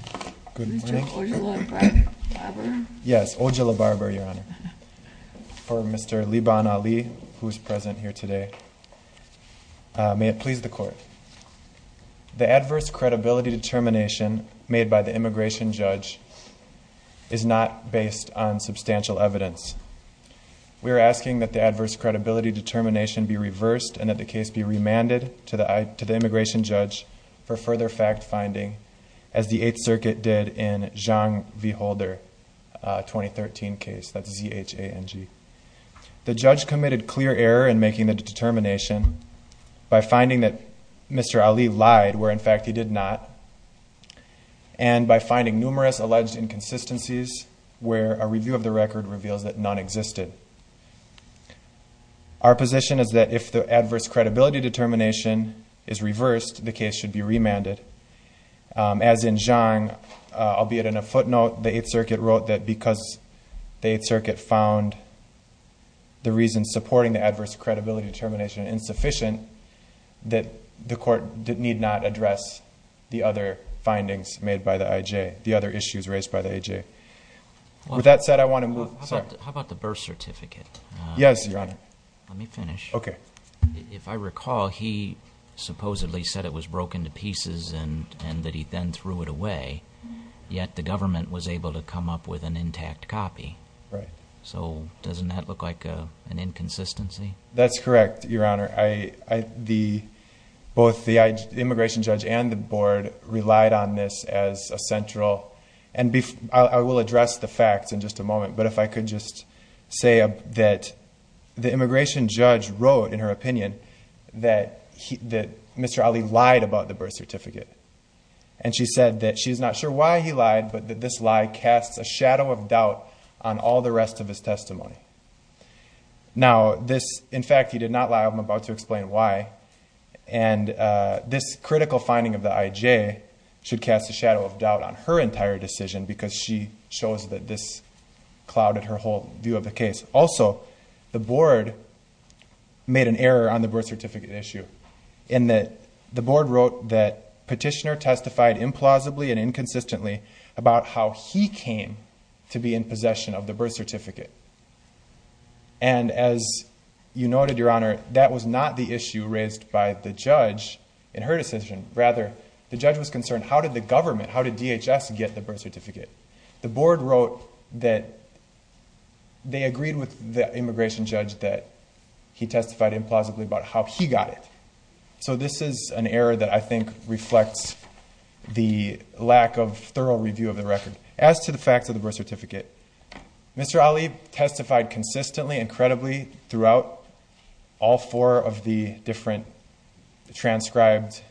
The adverse credibility determination made by the immigration judge is not based on substantial evidence. We are asking that the adverse credibility determination be reversed and that the case be remanded to the immigration judge for further fact-finding, as the Eighth Circuit did in Zhang v. Holder's 2013 case. The judge committed clear error in making the determination by finding that Mr. Ali lied where in fact he did not, and by finding numerous alleged inconsistencies where a review of the record reveals that none existed. Our position is that if the adverse credibility determination is reversed, the case should be remanded. As in Zhang, albeit in a footnote, the Eighth Circuit wrote that because the Eighth Circuit found the reasons supporting the adverse credibility determination insufficient, that the court did not need to address the other findings made by the IJ, the other issues raised by the IJ. With that said, I want to move... How about the birth certificate? Yes, Your Honor. Let me finish. Okay. If I recall, he supposedly said it was broken to pieces and that he then threw it away, yet the government was able to come up with an intact copy. Right. So doesn't that look like an inconsistency? That's correct, Your Honor. Both the immigration judge and the board relied on this as a central... I will address the facts in just a moment, but if I could just say that the immigration judge wrote, in her opinion, that Mr. Ali lied about the birth certificate. She said that she's not sure why he lied, but that this lie casts a shadow of doubt on all the rest of his testimony. Now, this... in fact, he did not lie. I'm about to explain why. And this critical finding of the IJ should cast a shadow of doubt on her entire decision because she shows that this clouded her whole view of the case. Also, the board made an error on the birth certificate issue in that the board wrote that Petitioner testified implausibly and inconsistently about how he came to be in And as you noted, Your Honor, that was not the issue raised by the judge in her decision. Rather, the judge was concerned, how did the government, how did DHS get the birth certificate? The board wrote that they agreed with the immigration judge that he testified implausibly about how he got it. So this is an error that I think reflects the lack of thorough review of the record. As to the fact of the birth certificate, Mr. Ali testified consistently and credibly throughout all four of the different transcribed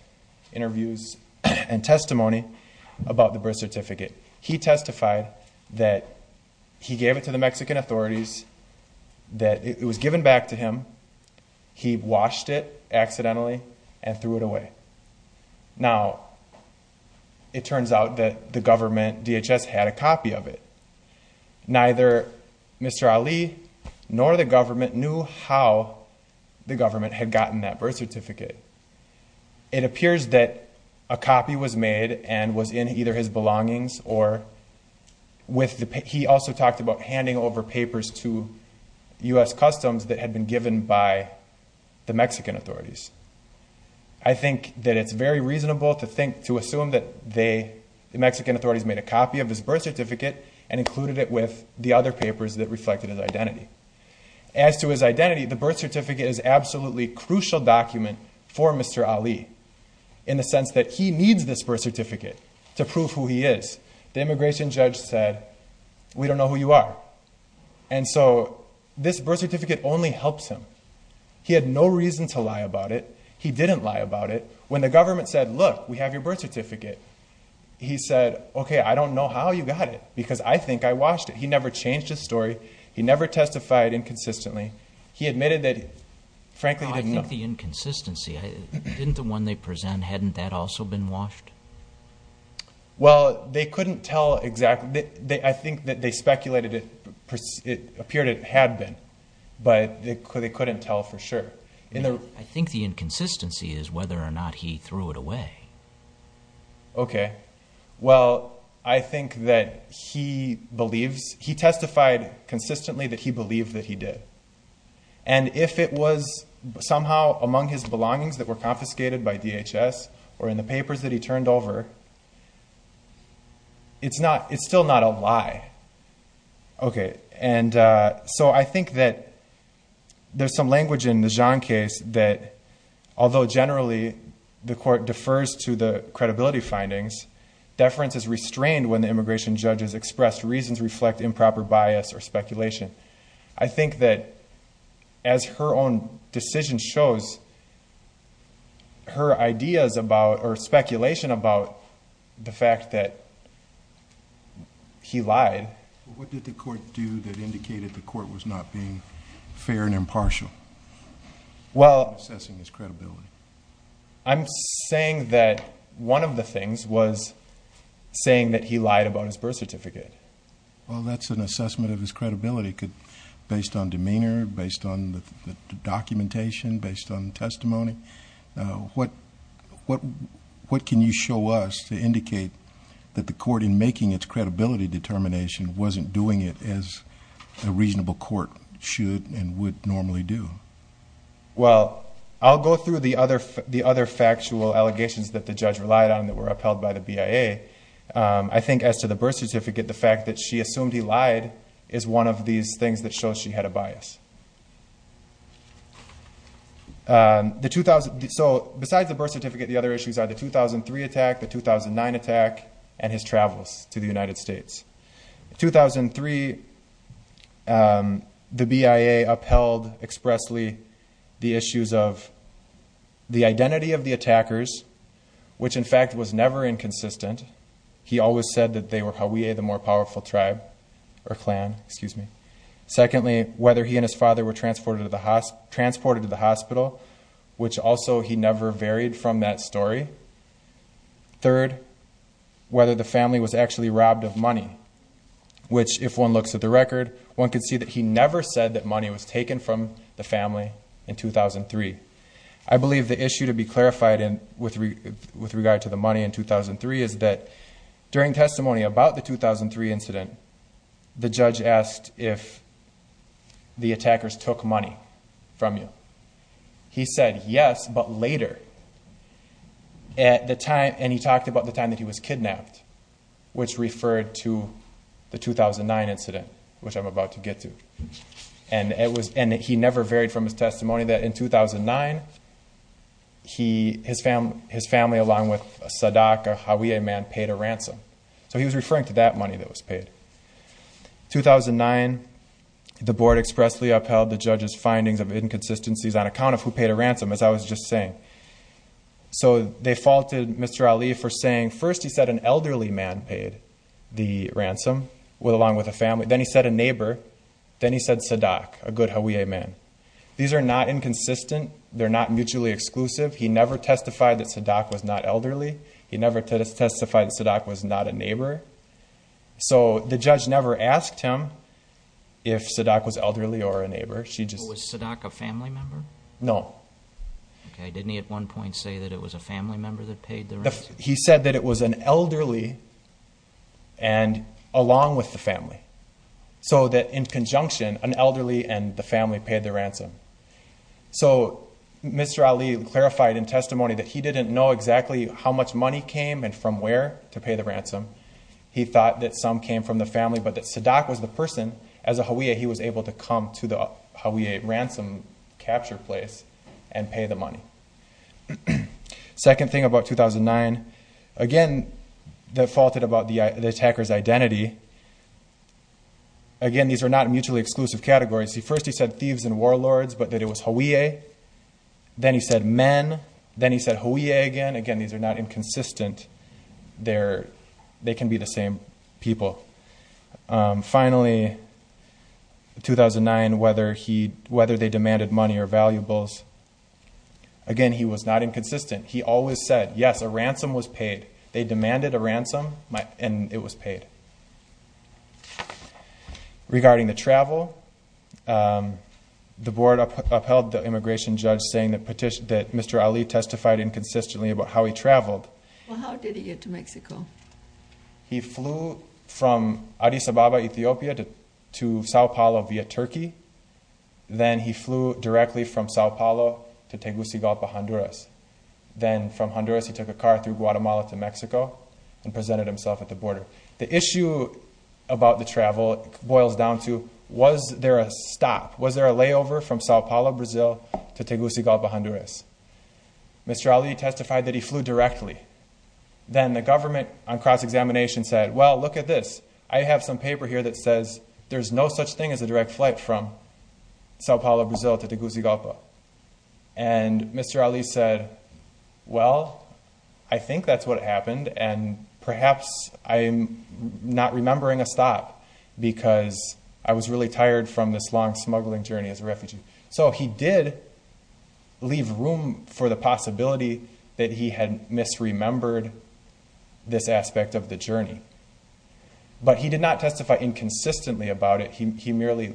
interviews and testimony about the birth certificate. He testified that he gave it to the Mexican authorities, that it was given back to him, he washed it accidentally, and threw it away. Now, it turns out that the government, DHS, had a copy of it. Neither Mr. Ali nor the government knew how the government had gotten that birth certificate. It appears that a copy was made and was in either his belongings or with the, he also talked about handing over papers to U.S. Customs that had been given by the Mexican authorities. I think that it's very reasonable to assume that the Mexican authorities made a copy of his birth certificate and included it with the other papers that reflected his identity. As to his identity, the birth certificate is an absolutely crucial document for Mr. Ali in the sense that he needs this birth certificate to prove who he is. The immigration judge said, we don't know who you are. And so this birth certificate only helps him. He had no reason to lie about it. He didn't lie about it. When the government said, look, we have your birth certificate, he said, okay, I don't know how you got it because I think I washed it. He never changed his story. He never testified inconsistently. He admitted that, frankly, he didn't know. I think the inconsistency, didn't the one they present, hadn't that also been washed? Well, they couldn't tell exactly. I think that they speculated it appeared it had been, but they couldn't tell for sure. I think the inconsistency is whether or not he threw it away. Okay. Well, I think that he believes, he testified consistently that he believed that he did. And if it was somehow among his belongings that were confiscated by DHS or in the papers that he turned over, it's still not a lie. Okay. And so I think that there's some language in the Jean case that, although generally the court defers to the credibility findings, deference is restrained when the immigration judge has expressed reasons reflect improper bias or speculation. I think that as her own decision shows, her ideas about or speculation about the fact that he lied. What did the court do that indicated the court was not being fair and impartial in assessing his credibility? I'm saying that one of the things was saying that he lied about his birth certificate. Well, that's an assessment of his credibility. Based on demeanor, based on the documentation, based on testimony, what can you show us to indicate that the court in making its credibility determination wasn't doing it as a reasonable court should and would normally do? Well, I'll go through the other factual allegations that the judge relied on that were upheld by the BIA. I think as to the birth certificate, the fact that she assumed he lied is one of these things that shows she had a bias. So besides the birth certificate, the other issues are the 2003 attack, the 2009 attack and his travels to the United States. In 2003, the BIA upheld expressly the issues of the identity of the attackers, which in consistent. He always said that they were Hawea, the more powerful tribe or clan, excuse me. Secondly, whether he and his father were transported to the hospital, which also he never varied from that story. Third, whether the family was actually robbed of money, which if one looks at the record, one could see that he never said that money was taken from the family in 2003. I believe the issue to be clarified with regard to the money in 2003 is that during testimony about the 2003 incident, the judge asked if the attackers took money from you. He said, yes, but later, and he talked about the time that he was kidnapped, which referred to the 2009 incident, which I'm about to get to. He never varied from his testimony that in 2009, his family, along with Sadak, a Hawea man, paid a ransom. So he was referring to that money that was paid. 2009, the board expressly upheld the judge's findings of inconsistencies on account of who paid a ransom, as I was just saying. So they faulted Mr. Ali for saying, first he said an elderly man paid the ransom, along with a family. Then he said a neighbor. Then he said Sadak, a good Hawea man. These are not inconsistent. They're not mutually exclusive. He never testified that Sadak was not elderly. He never testified that Sadak was not a neighbor. So the judge never asked him if Sadak was elderly or a neighbor. She just- Was Sadak a family member? No. Okay. Didn't he at one point say that it was a family member that paid the ransom? He said that it was an elderly and along with the family. So that in conjunction, an elderly and the family paid the ransom. So Mr. Ali clarified in testimony that he didn't know exactly how much money came and from where to pay the ransom. He thought that some came from the family, but that Sadak was the person, as a Hawea, he was able to come to the Hawea ransom capture place and pay the money. Second thing about 2009, again, that faulted about the attacker's identity. Again, these are not mutually exclusive categories. See, first he said thieves and warlords, but that it was Hawea. Then he said men. Then he said Hawea again. Again, these are not inconsistent. They can be the same people. Finally, 2009, whether they demanded money or valuables, again, he was not inconsistent. He always said, yes, a ransom was paid. They demanded a ransom and it was paid. Regarding the travel, the board upheld the immigration judge saying that Mr. Ali testified inconsistently about how he traveled. Well, how did he get to Mexico? He flew from Addis Ababa, Ethiopia to Sao Paulo via Turkey. Then he flew directly from Sao Paulo to Tegucigalpa, Honduras. Then from Honduras, he took a car through Guatemala to Mexico and presented himself at the border. The issue about the travel boils down to, was there a stop? Was there a layover from Sao Paulo, Brazil to Tegucigalpa, Honduras? Mr. Ali testified that he flew directly. Then the government on cross-examination said, well, look at this. I have some paper here that says there's no such thing as a direct flight from Sao Paulo, Brazil to Tegucigalpa. And Mr. Ali said, well, I think that's what happened and perhaps I'm not remembering a stop because I was really tired from this long smuggling journey as a refugee. So he did leave room for the possibility that he had misremembered this aspect of the journey. But he did not testify inconsistently about it. He merely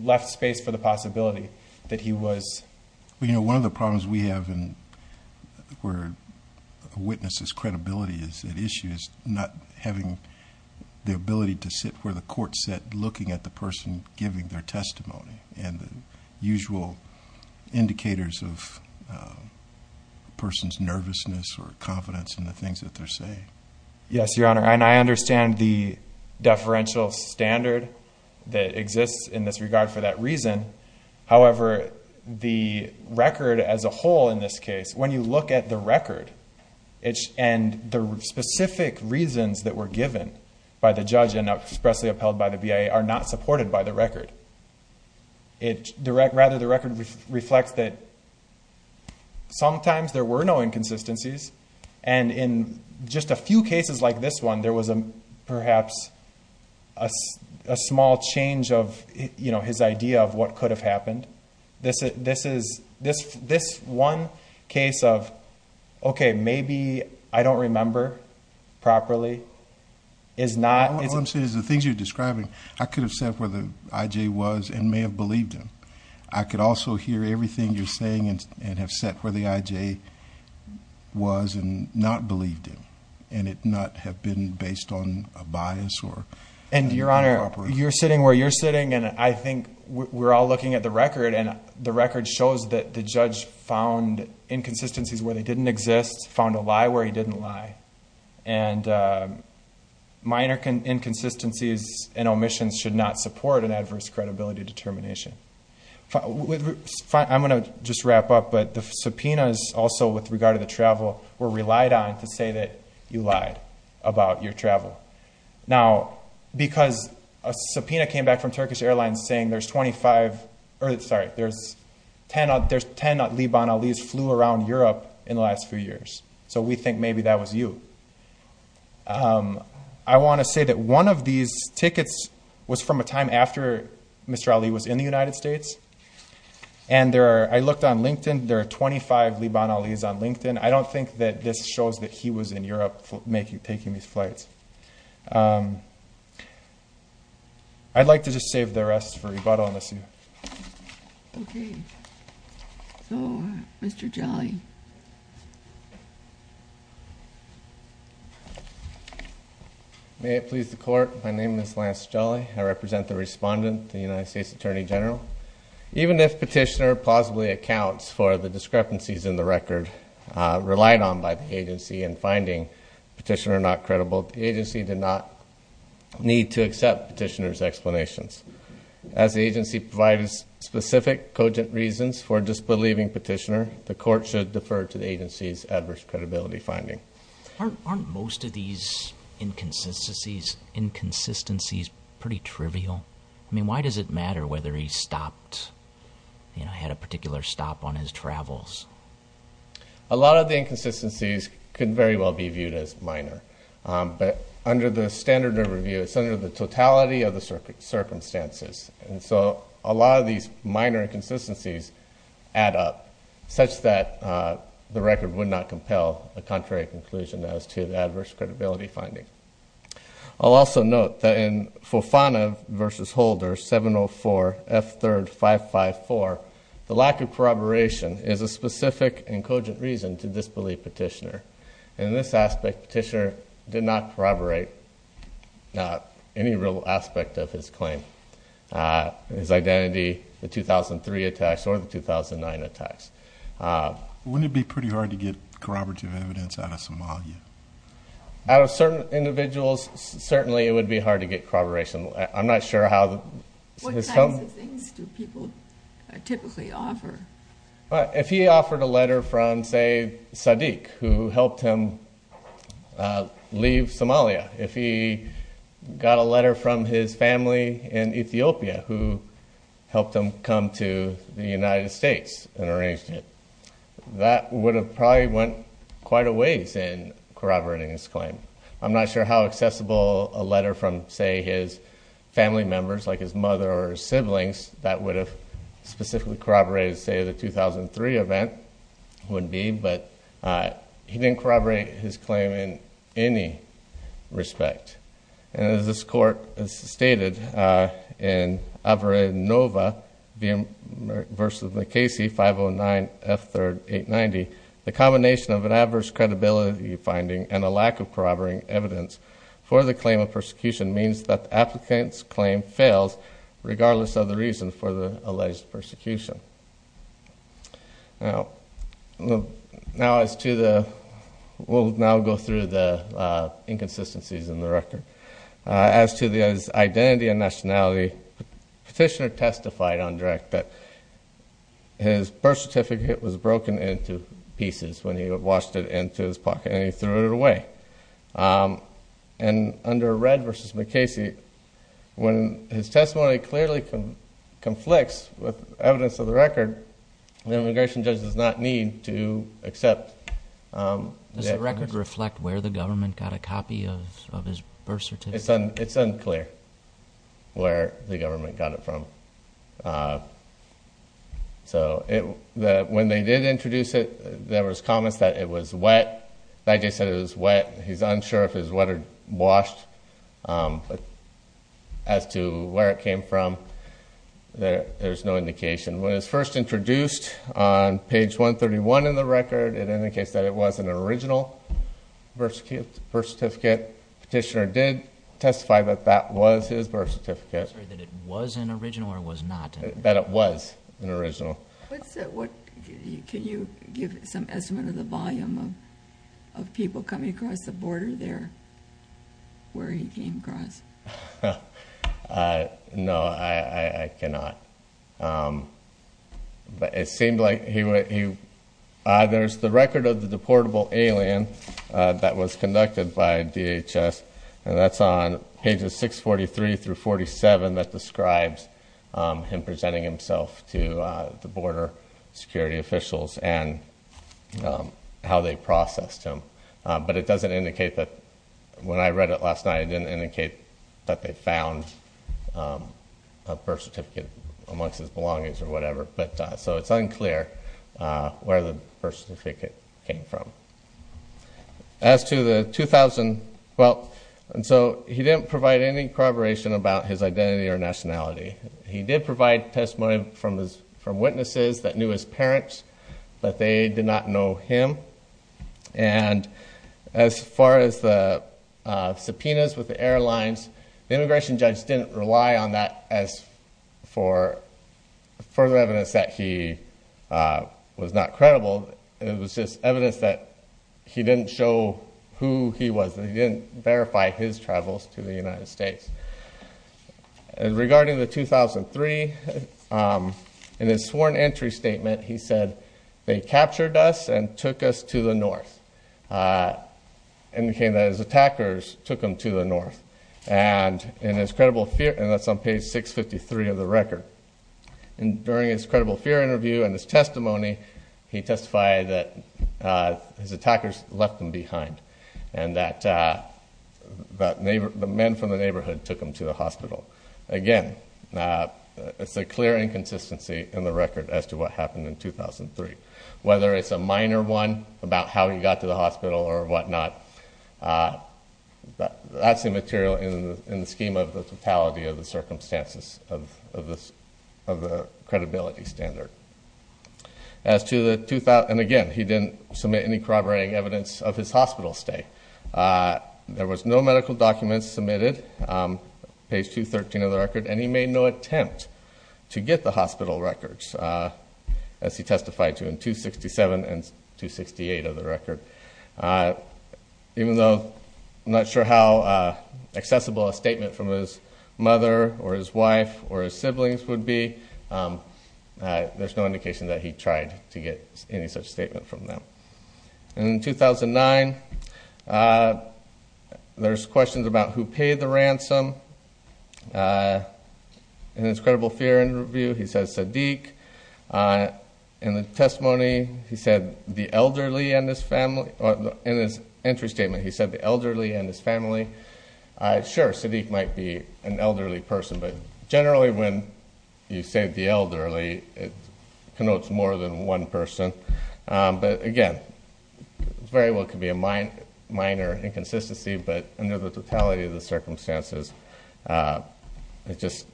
left space for the possibility that he was... Well, you know, one of the problems we have where a witness's credibility is at issue is not having the ability to sit where the court sat looking at the person giving their usual indicators of a person's nervousness or confidence in the things that they're saying. Yes, Your Honor. And I understand the deferential standard that exists in this regard for that reason. However, the record as a whole in this case, when you look at the record and the specific reasons that were given by the judge and expressly upheld by the BIA are not supported by the record. Rather, the record reflects that sometimes there were no inconsistencies. And in just a few cases like this one, there was perhaps a small change of his idea of what could have happened. This one case of, okay, maybe I don't remember properly is not... All I'm saying is the things you're describing, I could have sat where the IJ was and may have believed him. I could also hear everything you're saying and have sat where the IJ was and not believed him and it not have been based on a bias or... And Your Honor, you're sitting where you're sitting and I think we're all looking at the record and the record shows that the judge found inconsistencies where they didn't exist, found a lie where he didn't lie. And minor inconsistencies and omissions should not support an adverse credibility determination. I'm going to just wrap up, but the subpoenas also with regard to the travel were relied on to say that you lied about your travel. Now, because a subpoena came back from Turkish Airlines saying there's 25... Sorry, there's 10 Liban Alis flew around Europe in the last few years. So, we think maybe that was you. I want to say that one of these tickets was from a time after Mr. Ali was in the United States and there are... I looked on LinkedIn, there are 25 Liban Alis on LinkedIn. I don't think that this shows that he was in Europe taking these flights. I'd like to just save the rest for rebuttal and assume. Okay. So, Mr. Jolly. May it please the court. My name is Lance Jolly. I represent the respondent, the United States Attorney General. Even if Petitioner plausibly accounts for the discrepancies in the record relied on by the agency in finding Petitioner not credible, the agency did not need to accept Petitioner's explanations. As the agency provided specific cogent reasons for disbelieving Petitioner, the court should defer to the agency's adverse credibility finding. Aren't most of these inconsistencies pretty trivial? I mean, why does it matter whether he stopped, you know, had a particular stop on his travels? A lot of the inconsistencies could very well be viewed as minor. But under the standard of review, it's under the totality of the circumstances. And so, a lot of these minor inconsistencies add up such that the record would not compel a contrary conclusion as to the adverse credibility finding. I'll also note that in Fofana v. Holder 704 F3 554, the lack of corroboration is a specific and cogent reason to disbelieve Petitioner. And in this aspect, Petitioner did not corroborate any real aspect of his claim, his identity, the 2003 attacks or the 2009 attacks. Wouldn't it be pretty hard to get corroborative evidence out of Somalia? Out of certain individuals, certainly it would be hard to get corroboration. I'm not sure how... What kinds of things do people typically offer? If he offered a letter from, say, Sadiq who helped him leave Somalia, if he got a letter from his family in Ethiopia who helped him come to the United States and arranged it, that would have probably went quite a ways in corroborating his claim. I'm not sure how accessible a letter from, say, his family members like his mother or siblings that would have specifically corroborated, say, the 2003 event would be, but he didn't corroborate his claim in any respect. And as this Court has stated in Averinova v. MacCasey 509 F3 890, the combination of an adverse credibility finding and a lack of corroborating evidence for the claim of persecution means that the applicant's claim fails regardless of the reason for the alleged persecution. We'll now go through the inconsistencies in the record. As to his identity and nationality, the petitioner testified on direct that his birth certificate was broken into pieces when he washed it into his pocket and he threw it away. And under Red v. MacCasey, when his testimony clearly conflicts with evidence of the record, the immigration judge does not need to accept the evidence. Does the record reflect where the government got a copy of his birth certificate? It's unclear where the government got it from. So when they did introduce it, there was comments that it was wet. The IG said it was wet. He's unsure if it was wet or washed. As to where it came from, there's no indication. When it was first introduced on page 131 in the record, it indicates that it was an original birth certificate. The petitioner did testify that that was his birth certificate. He's unsure that it was an original or was not an original. That it was an original. Can you give some estimate of the volume of people coming across the border there where he came across? No, I cannot. But it seemed like he was. There's the record of the deportable alien that was conducted by DHS, and that's on pages 643 through 47 that describes him presenting himself to the border security officials and how they processed him. But it doesn't indicate that when I read it last night, it didn't indicate that they found a birth certificate amongst his belongings or whatever. So it's unclear where the birth certificate came from. As to the 2012, he didn't provide any corroboration about his identity or nationality. He did provide testimony from witnesses that knew his parents, but they did not know him. And as far as the subpoenas with the airlines, the immigration judge didn't rely on that for further evidence that he was not credible. It was just evidence that he didn't show who he was and he didn't verify his travels to the United States. Regarding the 2003, in his sworn entry statement, he said, they captured us and took us to the north. Indicating that his attackers took him to the north. And that's on page 653 of the record. During his credible fear interview and his testimony, he testified that his attackers left him behind. And that the men from the neighborhood took him to the hospital. Again, it's a clear inconsistency in the record as to what happened in 2003. Whether it's a minor one about how he got to the hospital or whatnot, that's immaterial in the scheme of the totality of the circumstances of the credibility standard. And again, he didn't submit any corroborating evidence of his hospital stay. There was no medical documents submitted, page 213 of the record. And he made no attempt to get the hospital records, as he testified to in 267 and 268 of the record. Even though I'm not sure how accessible a statement from his mother or his wife or his siblings would be, there's no indication that he tried to get any such statement from them. And in 2009, there's questions about who paid the ransom. In his credible fear interview, he says Sadiq. In the testimony, he said the elderly and his family. In his entry statement, he said the elderly and his family. Sure, Sadiq might be an elderly person. But generally, when you say the elderly, it connotes more than one person. But again, it very well could be a minor inconsistency. But under the totality of the circumstances, it just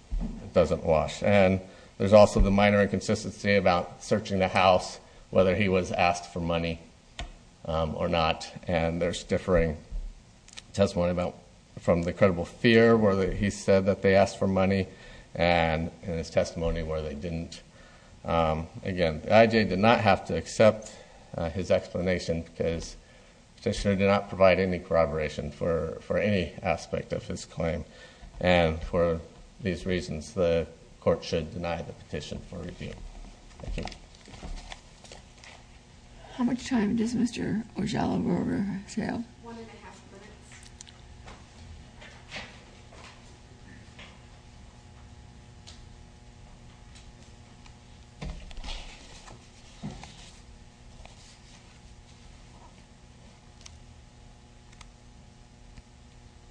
doesn't wash. And there's also the minor inconsistency about searching the house, whether he was asked for money or not. And there's differing testimony from the credible fear, where he said that they asked for money. And in his testimony, where they didn't. Again, the IJ did not have to accept his explanation, because the petitioner did not provide any corroboration for any aspect of his claim. And for these reasons, the court should deny the petition for review. Thank you. How much time does Mr. Ojello go over? One and a half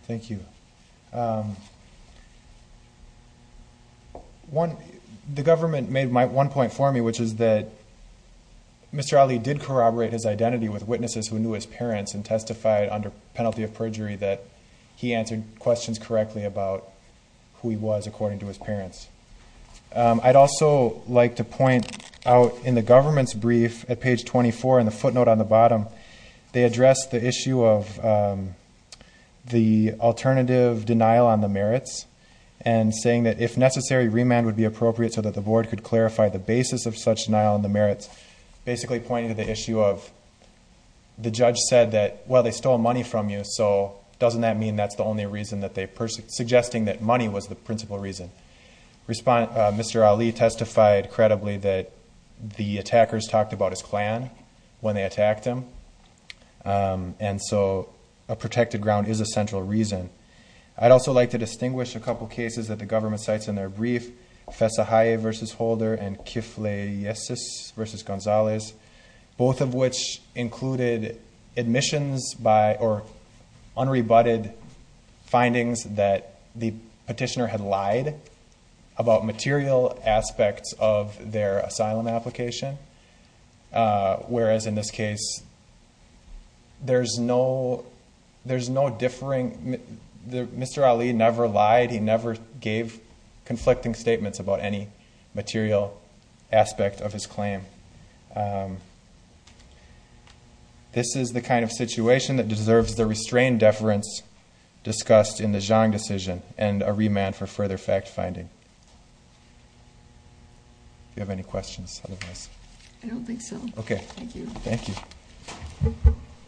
minutes. Thank you. The government made one point for me, which is that Mr. Ali did corroborate his identity with witnesses who knew his parents and testified under penalty of perjury that he answered questions correctly about who he was, according to his parents. I'd also like to point out, in the government's brief at page 24, in the footnote on the bottom, they addressed the issue of the alternative denial on the merits and saying that, if necessary, remand would be appropriate so that the board could clarify the basis of such denial on the merits, basically pointing to the issue of, the judge said that, well, they stole money from you, so doesn't that mean that's the only reason that they, suggesting that money was the principal reason. Mr. Ali testified credibly that the attackers talked about his clan when they attacked him, and so a protected ground is a central reason. I'd also like to distinguish a couple cases that the government cites in their brief, Fessahaye v. Holder and Kifleyesis v. Gonzalez, both of which included admissions by, or unrebutted findings that the petitioner had lied about material aspects of their asylum application, whereas in this case, there's no differing, Mr. Ali never lied, he never gave conflicting statements about any material aspect of his claim. This is the kind of situation that deserves the restrained deference discussed in the Zhang decision, and a remand for further fact-finding. Do you have any questions? I don't think so. Okay. Thank you. Thank you.